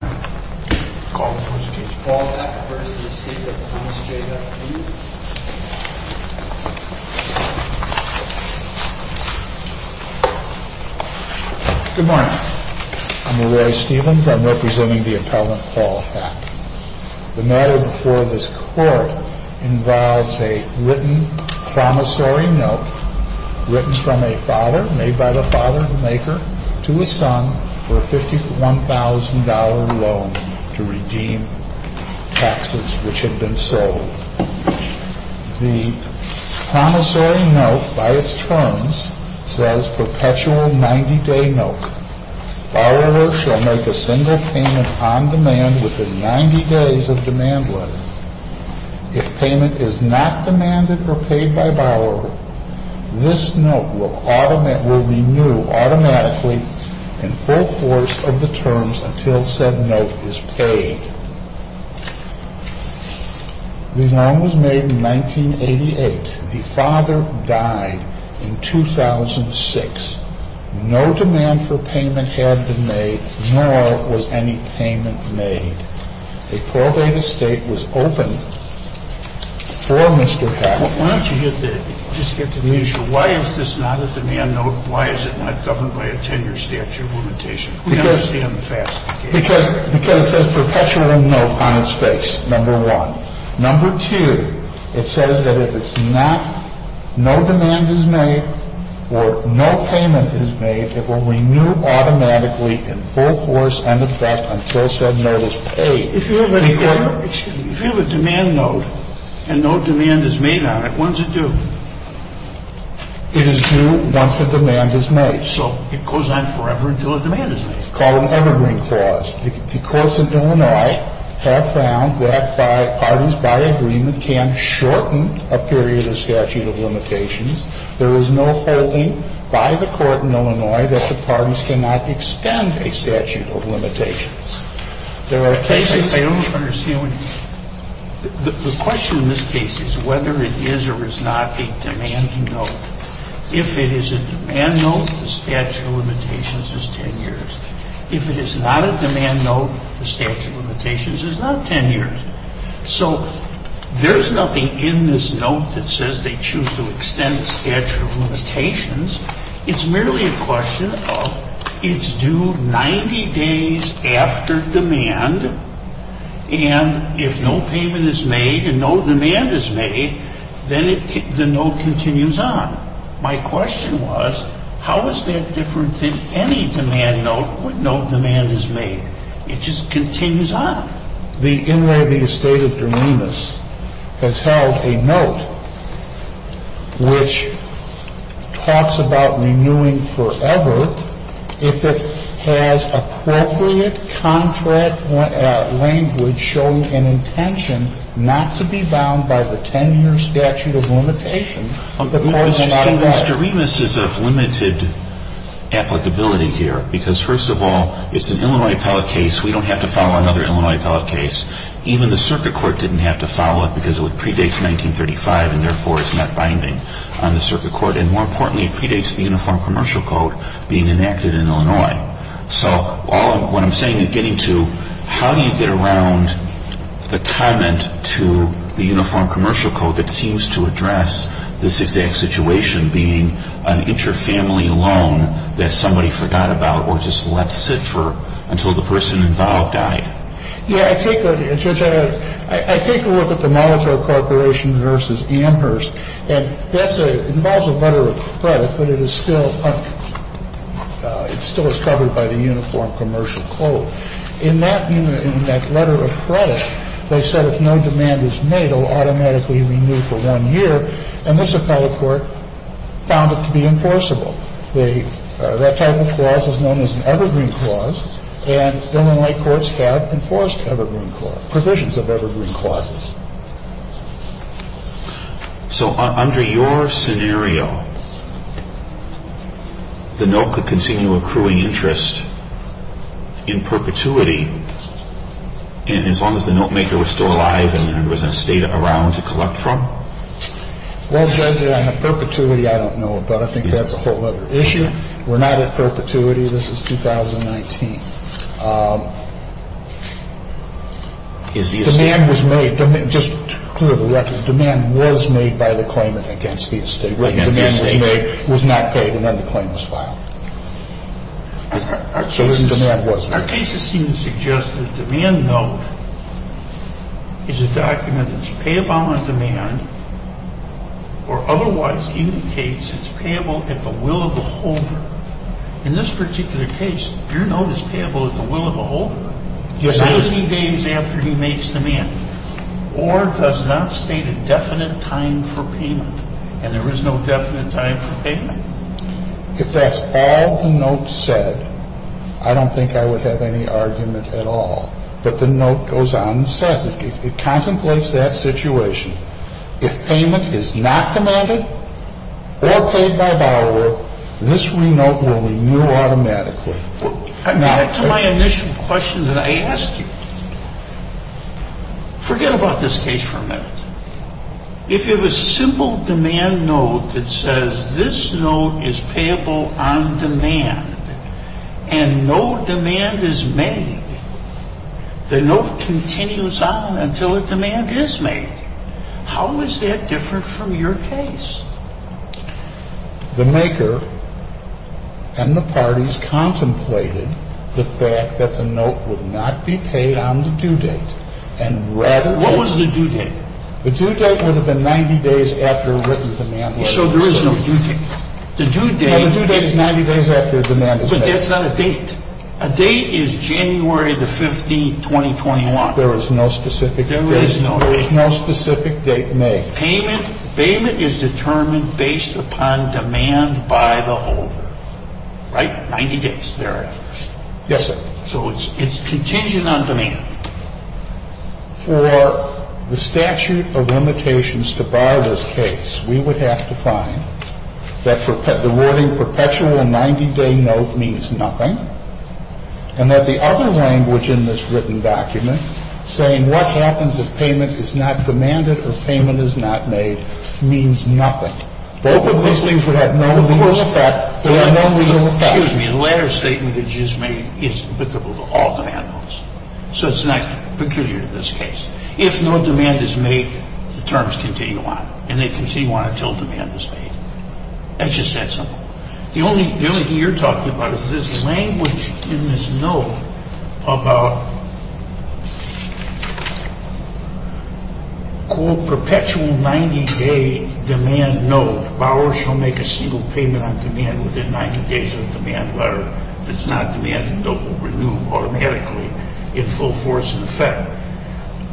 Good morning. I'm Larry Stephens. I'm representing the appellant Paul Heck. The matter before this court involves a written promissory note written from a father, made by the father of the maker, to his son for a $51,000 loan to redeem taxes which had been sold. The promissory note, by its terms, says perpetual 90-day note. Borrowers shall make a single payment on demand within 90 days of demand letter. If payment is not demanded or paid by borrower, this note will renew automatically in full course of the terms until said note is paid. The loan was made in 1988. The father died in 2006. No demand for payment had been made, nor was any payment made. A probate estate was opened for Mr. Heck. Why don't you just get the measure? Why is this not a demand note? Why is it not governed by a 10-year statute of limitation? Because it says perpetual note on its face, number one. Number two, it says that if it's not, no demand is made or no payment is made, it will renew automatically in full course and effect until said note is paid. If you have a demand note and no demand is made on it, when's it due? It is due once a demand is made. So it goes on forever until a demand is made. It's called an evergreen clause. The courts in Illinois have found that pardons by agreement can shorten a period of statute of limitations. There is no holding by the court in Illinois that the pardons cannot extend a statute of limitations. There are cases – I don't understand what you're – the question in this case is whether it is or is not a demanding note. If it is a demand note, the statute of limitations is 10 years. If it is not a demand note, the statute of limitations is not 10 years. So there is nothing in this note that says they choose to extend the statute of limitations. It's merely a question of it's due 90 days after demand, and if no payment is made and no demand is made, then the note continues on. My question was, how is that different than any demand note when no demand is made? It just continues on. The Inway of the Estate of Doremus has held a note which talks about renewing forever if it has appropriate contract language showing an intention not to be bound by the 10-year statute of limitations. Mr. Stevens, Doremus is of limited applicability here because, first of all, it's an Illinois developed case. Even the circuit court didn't have to follow it because it predates 1935 and therefore is not binding on the circuit court. And more importantly, it predates the Uniform Commercial Code being enacted in Illinois. So all I'm – what I'm saying in getting to how do you get around the comment to the Uniform Commercial Code that seems to address this exact situation being an inter-family loan that somebody forgot about or just left to sit for until the person involved died? Yeah. I take a look at the Molitor Corporation v. Amherst, and that's a – it involves a letter of credit, but it is still – it still is covered by the Uniform Commercial Code. In that letter of credit, they said if no demand is made, it will automatically be renewed for one year, and this appellate court found it to be enforceable. They – that type of clause is known as an evergreen clause, and Illinois courts have enforced evergreen – provisions of evergreen clauses. So under your scenario, the note could continue accruing interest in perpetuity as long as the notemaker was still alive and there was an estate around to collect from? Well, Judge, I have perpetuity I don't know about. I think that's a whole other issue. We're not at perpetuity. This is 2019. Is the estate – Demand was made – just to clear the record, demand was made by the claimant against the estate. Against the estate. Demand was made, was not paid, and then the claim was filed. Our cases – So then demand was made. Our cases seem to suggest that a demand note is a document that's payable on demand or otherwise indicates it's payable at the will of the holder. In this particular case, your note is payable at the will of the holder. Yes, it is. 30 days after he makes demand, or does not state a definite time for payment, and there is no definite time for payment. If that's all the note said, I don't think I would have any argument at all. But the note goes on and says it. It contemplates that situation. If payment is not demanded or paid by borrower, this renote will renew automatically. Back to my initial question that I asked you. Forget about this case for a minute. If you have a simple demand note that says this note is payable on demand and no demand is made, the note continues on until a demand is made. How is that different from your case? The maker and the parties contemplated the fact that the note would not be paid on the due date. What was the due date? The due date would have been 90 days after a written demand was made. So there is no due date. The due date is 90 days after a demand is made. But that's not a date. A date is January 15, 2021. There is no specific date. There is no date. There is no specific date made. Payment is determined based upon demand by the holder. Right? 90 days. There it is. Yes, sir. So it's contingent on demand. For the statute of limitations to bar this case, we would have to find that the wording perpetual 90-day note means nothing and that the other language in this written document saying what happens if payment is not demanded or payment is not made means nothing. Both of these things would have no legal effect. Excuse me. The latter statement that you just made is applicable to all demand notes. So it's not peculiar to this case. If no demand is made, the terms continue on and they continue on until demand is made. It's just that simple. The only thing you're talking about is this language in this note about perpetual 90-day demand note. Borrowers shall make a single payment on demand within 90 days of the demand letter. If it's not demanded, the note will renew automatically in full force and effect.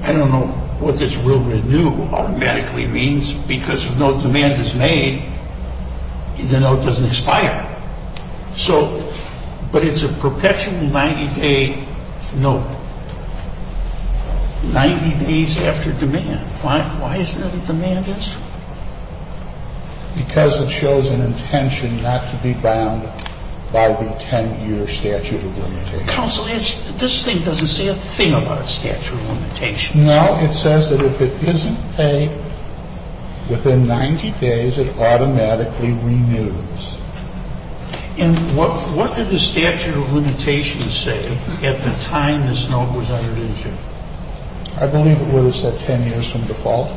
I don't know what this will renew automatically means because if no demand is made, the note doesn't expire. But it's a perpetual 90-day note, 90 days after demand. Why isn't it that demand is? Because it shows an intention not to be bound by the 10-year statute of limitations. Counsel, this thing doesn't say a thing about a statute of limitations. No, it says that if it isn't paid within 90 days, it automatically renews. And what did the statute of limitations say at the time this note was entered into? I believe it would have said 10 years from default.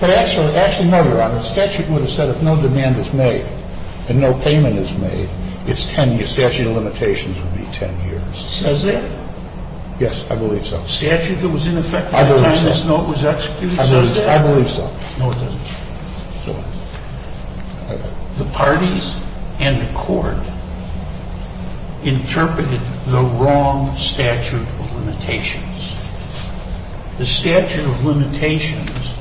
Actually, no, Your Honor, the statute would have said if no demand is made and no payment is made, the statute of limitations would be 10 years. It says that? Yes, I believe so. The statute that was in effect at the time this note was executed says that? I believe so. No, it doesn't. The parties and the court interpreted the wrong statute of limitations. The statute of limitations,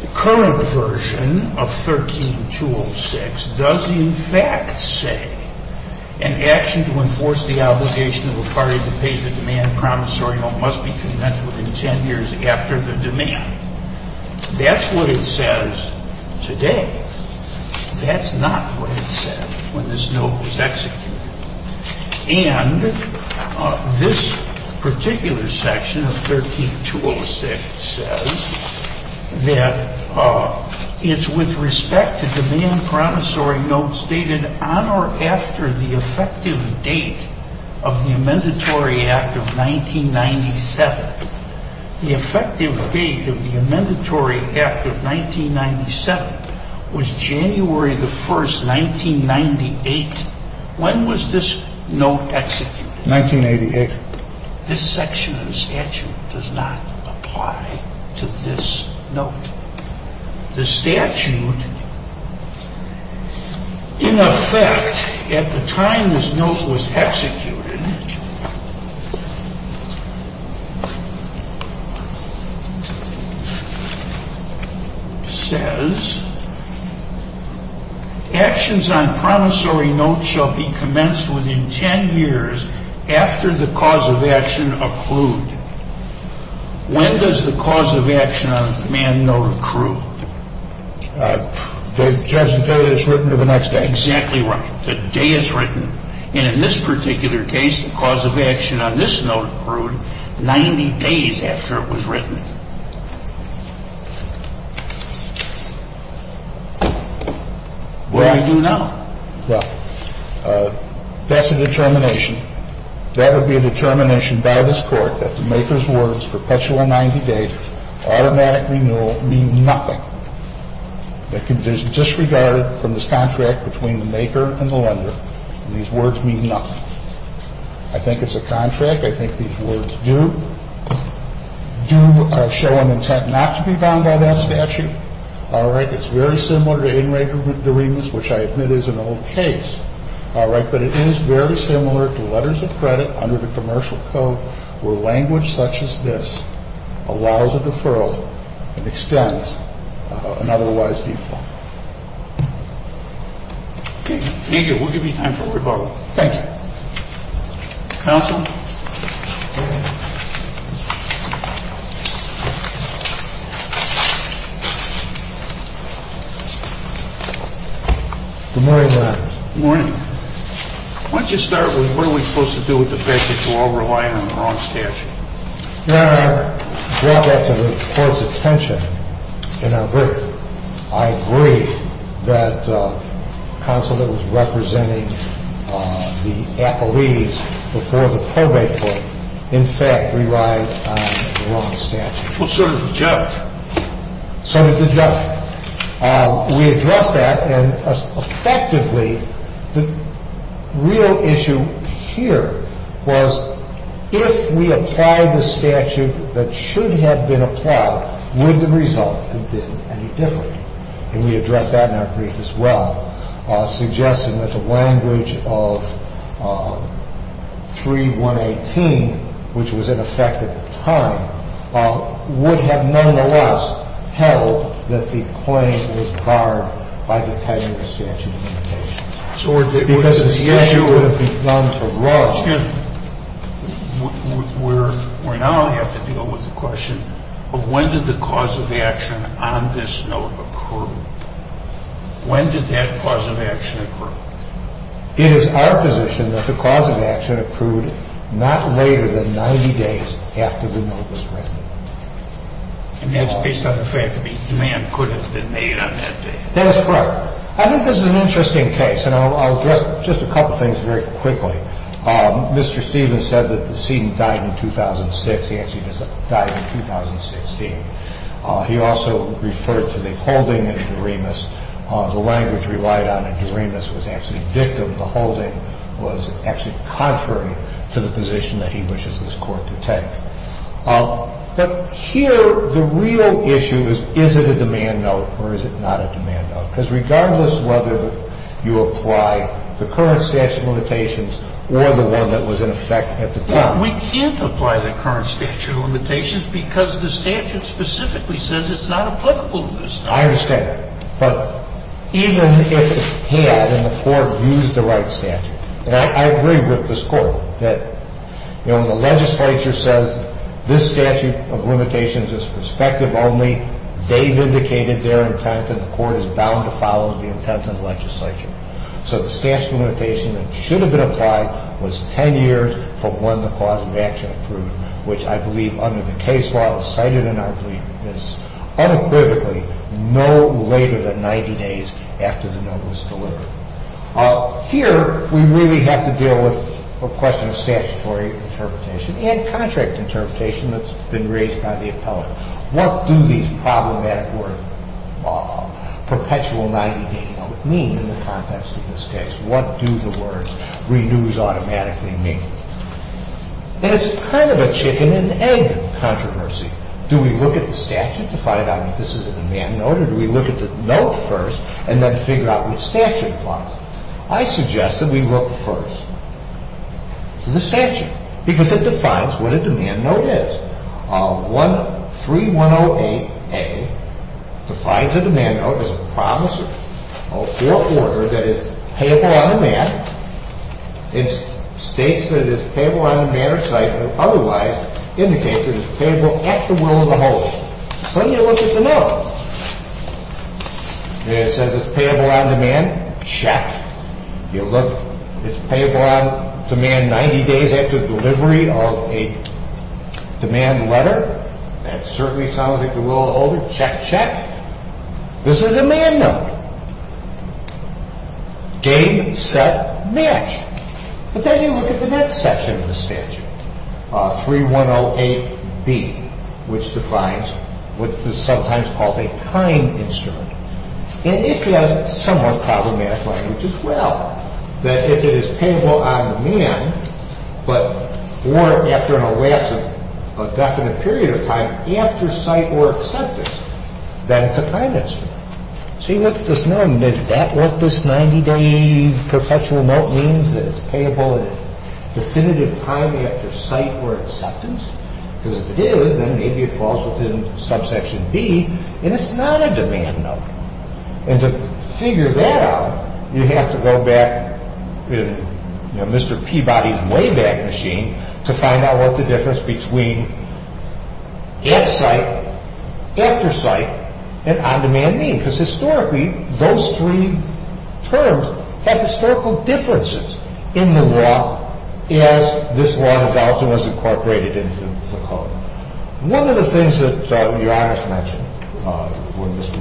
the current version of 13-206 does in fact say an action to enforce the obligation of a party to pay the demand promissory note must be conventional within 10 years after the demand. That's what it says today. That's not what it said when this note was executed. And this particular section of 13-206 says that it's with respect to demand promissory notes dated on or after the effective date of the Amendatory Act of 1997. The effective date of the Amendatory Act of 1997 was January the 1st, 1998. When was this note executed? 1988. This section of the statute does not apply to this note. The statute, in effect, at the time this note was executed, says, actions on promissory notes shall be commenced within 10 years after the cause of action occlude. When does the cause of action on the demand note accrue? Judge, the day it's written or the next day? Exactly right. The day it's written. And in this particular case, the cause of action on this note accrued 90 days after it was written. Well, I do now. Well, that's a determination. That would be a determination by this Court that the maker's words, perpetual 90 days, automatic renewal, mean nothing. There's disregarded from this contract between the maker and the lender. These words mean nothing. I think it's a contract. I think these words do show an intent not to be bound by that statute. All right. It's very similar to in regular deremas, which I admit is an old case. All right. But it is very similar to letters of credit under the commercial code, where language such as this allows a deferral and extends an otherwise default. Thank you. We'll give you time for rebuttal. Thank you. Counsel. Good morning, Your Honor. Good morning. Why don't you start with what are we supposed to do with the fact that you all rely on the wrong statute? Your Honor, I brought that to the Court's attention in our group. I agree that the counsel that was representing the appellees before the probate court, in fact, relied on the wrong statute. Well, so did the judge. So did the judge. We addressed that, and effectively, the real issue here was if we applied the statute that should have been applied, would the result have been any different? And we addressed that in our brief as well, suggesting that the language of 3118, which was in effect at the time, would have nonetheless held that the claim was barred by the tenure of statute of limitation. Because the statute would have begun to run. Excuse me. We're now going to have to deal with the question of when did the cause of action on this note occur? When did that cause of action occur? It is our position that the cause of action occurred not later than 90 days after the note was written. And that's based on the fact that the demand could have been made on that day? That is correct. I think this is an interesting case, and I'll address just a couple things very quickly. Mr. Stevens said that the decedent died in 2006. He actually died in 2016. He also referred to the holding in Doremus. The language relied on in Doremus was actually victim. The holding was actually contrary to the position that he wishes this Court to take. But here, the real issue is, is it a demand note or is it not a demand note? Because regardless of whether you apply the current statute of limitations or the one that was in effect at the time. We can't apply the current statute of limitations because the statute specifically says it's not applicable to this time. I understand that. But even if it had and the Court used the right statute, and I agree with this Court that, you know, when the legislature says this statute of limitations is prospective only, they've indicated their intent and the Court is bound to follow the intent of the legislature. So the statute of limitations that should have been applied was 10 years from when the cause of action approved, which I believe under the case law is cited, and I agree with this, unequivocally no later than 90 days after the note was delivered. Here, we really have to deal with a question of statutory interpretation and contract interpretation that's been raised by the appellate. What do these problematic words, perpetual 90-day note, mean in the context of this case? What do the words renews automatically mean? And it's kind of a chicken-and-egg controversy. Do we look at the statute to find out if this is a demand note, or do we look at the note first and then figure out which statute it was? I suggest that we look first to the statute because it defines what a demand note is. 13108A defines a demand note as a promise of fourth order that is payable on demand. It states that it is payable on demand or otherwise indicates that it is payable at the will of the host. Then you look at the note. It says it's payable on demand. Check. You look. It's payable on demand 90 days after delivery of a demand letter. That certainly sounds at the will of the holder. Check, check. This is a demand note. Game, set, match. But then you look at the next section of the statute, 3108B, which defines what is sometimes called a time instrument. And it has somewhat problematic language as well, that if it is payable on demand but or after a lapse of a definite period of time after site or acceptance, then it's a time instrument. So you look at this note. Is that what this 90-day perpetual note means, that it's payable at a definitive time after site or acceptance? Because if it is, then maybe it falls within subsection B, and it's not a demand note. And to figure that out, you have to go back in Mr. Peabody's Wayback Machine to find out what the difference between at site, after site, and on demand means. Because historically, those three terms have historical differences in the law as this law has often was incorporated into the code. One of the things that Your Honor has mentioned, when Mr.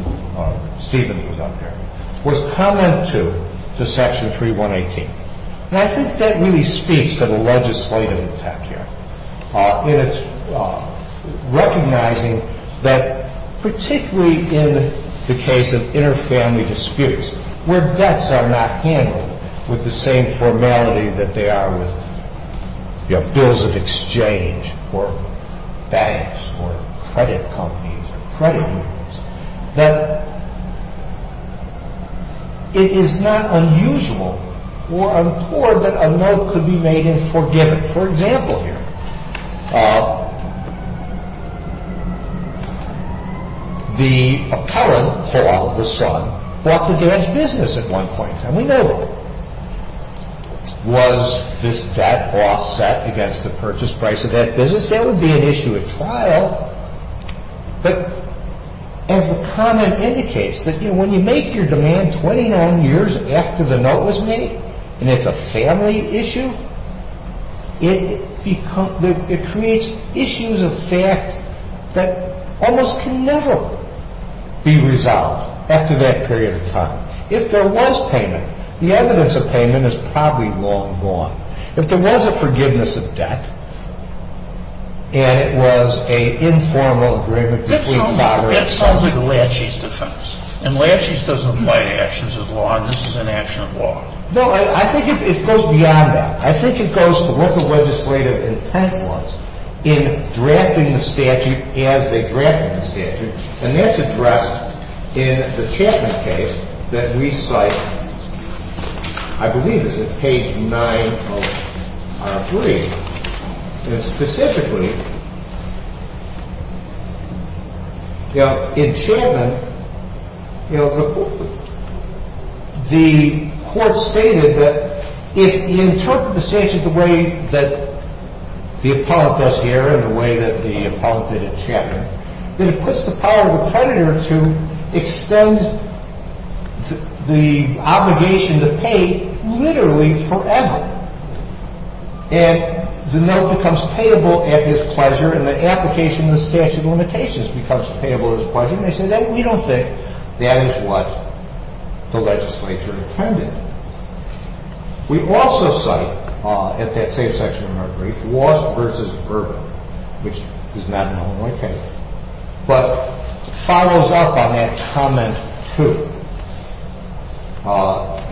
Stevens was up here, was comment two to section 3118. And I think that really speaks to the legislative attack here in its recognizing that particularly in the case of inter-family disputes where debts are not handled with the same formality that they are with bills of exchange or banks or credit companies or credit unions, that it is not unusual or untoward that a note could be made in forgiveness. For example here, the appellant, Paul, the son, bought the garage business at one point, and we know that. Was this debt offset against the purchase price of that business? That would be an issue at trial. But as the comment indicates, when you make your demand 29 years after the note was made, and it's a family issue, it creates issues of fact that almost can never be resolved after that period of time. If there was payment, the evidence of payment is probably long gone. If there was a forgiveness of debt, and it was an informal agreement between father and son. That sounds like a Latches defense. And Latches doesn't apply to actions of law. This is an action of law. No, I think it goes beyond that. I think it goes to what the legislative intent was in drafting the statute as they drafted the statute. And that's addressed in the Chapman case that we cite, I believe, is it page 9 of our brief? Specifically, in Chapman, the court stated that if you interpret the statute the way that the appellant does here and the way that the appellant did in Chapman, then it puts the power of the creditor to extend the obligation to pay literally forever. And the note becomes payable at his pleasure, and the application of the statute of limitations becomes payable at his pleasure. And they say, we don't think that is what the legislature intended. We also cite at that same section of our brief, Walsh v. Urban, which is not an Illinois case, but follows up on that comment 2.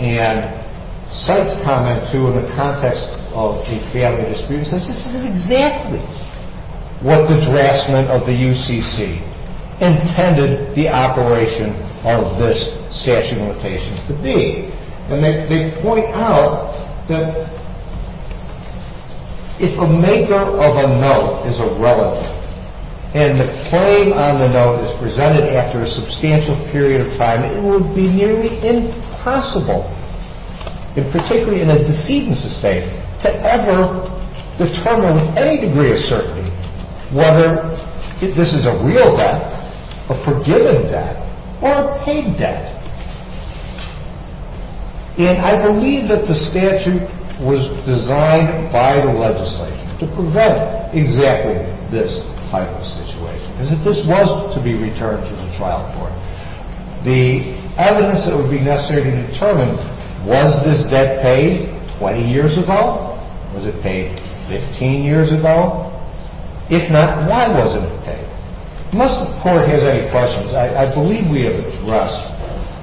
And cites comment 2 in the context of a family dispute. This is exactly what the draftsman of the UCC intended the operation of this statute of limitations to be. And they point out that if a maker of a note is a relative and the claim on the note is presented after a substantial period of time, it would be nearly impossible, particularly in a decedent's estate, to ever determine with any degree of certainty whether this is a real debt, a forgiven debt, or a paid debt. And I believe that the statute was designed by the legislature to prevent exactly this type of situation, is that this was to be returned to the trial court. The evidence that would be necessary to determine was this debt paid 20 years ago, was it paid 15 years ago? If not, why wasn't it paid? Unless the court has any questions, I believe we have addressed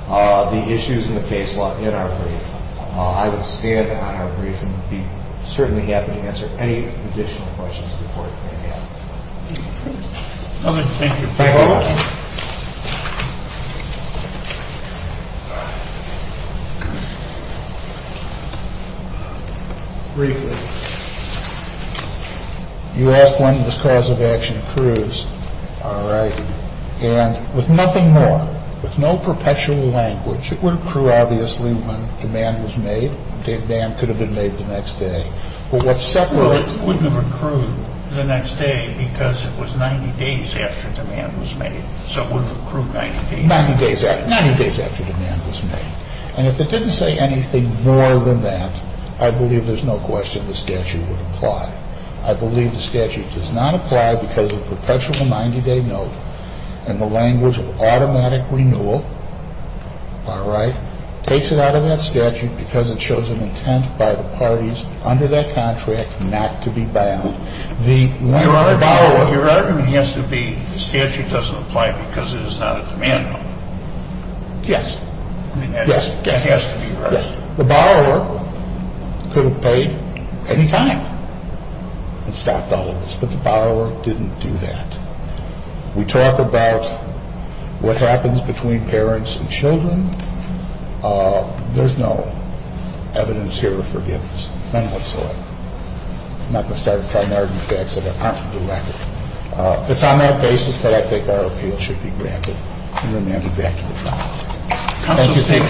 the issues in the case law in our brief. I would stand on our brief and be certainly happy to answer any additional questions the court may have. Thank you. Briefly, you ask when this cause of action accrues. All right. And with nothing more, with no perpetual language, it would accrue. Obviously, when demand was made, demand could have been made the next day. Well, it wouldn't have accrued the next day because it was 90 days after demand was made. So it would have accrued 90 days. Ninety days after demand was made. And if it didn't say anything more than that, I believe there's no question the statute would apply. I believe the statute does not apply because of perpetual 90-day note and the language of automatic renewal, all right, takes it out of that statute because it shows an intent by the parties under that contract not to be bound. Your argument has to be the statute doesn't apply because it is not a demand note. Yes. I mean, that has to be right. Yes. The borrower could have paid any time and stopped all of this, but the borrower didn't do that. We talk about what happens between parents and children. There's no evidence here of forgiveness. None whatsoever. I'm not going to start a primary defense of it. I'm not going to do that. It's on that basis that I think our appeal should be granted and remanded back to the trial. Thank you. Thank you. Thank you. Thank you. Thank you. Thank you. Thank you. Thank you.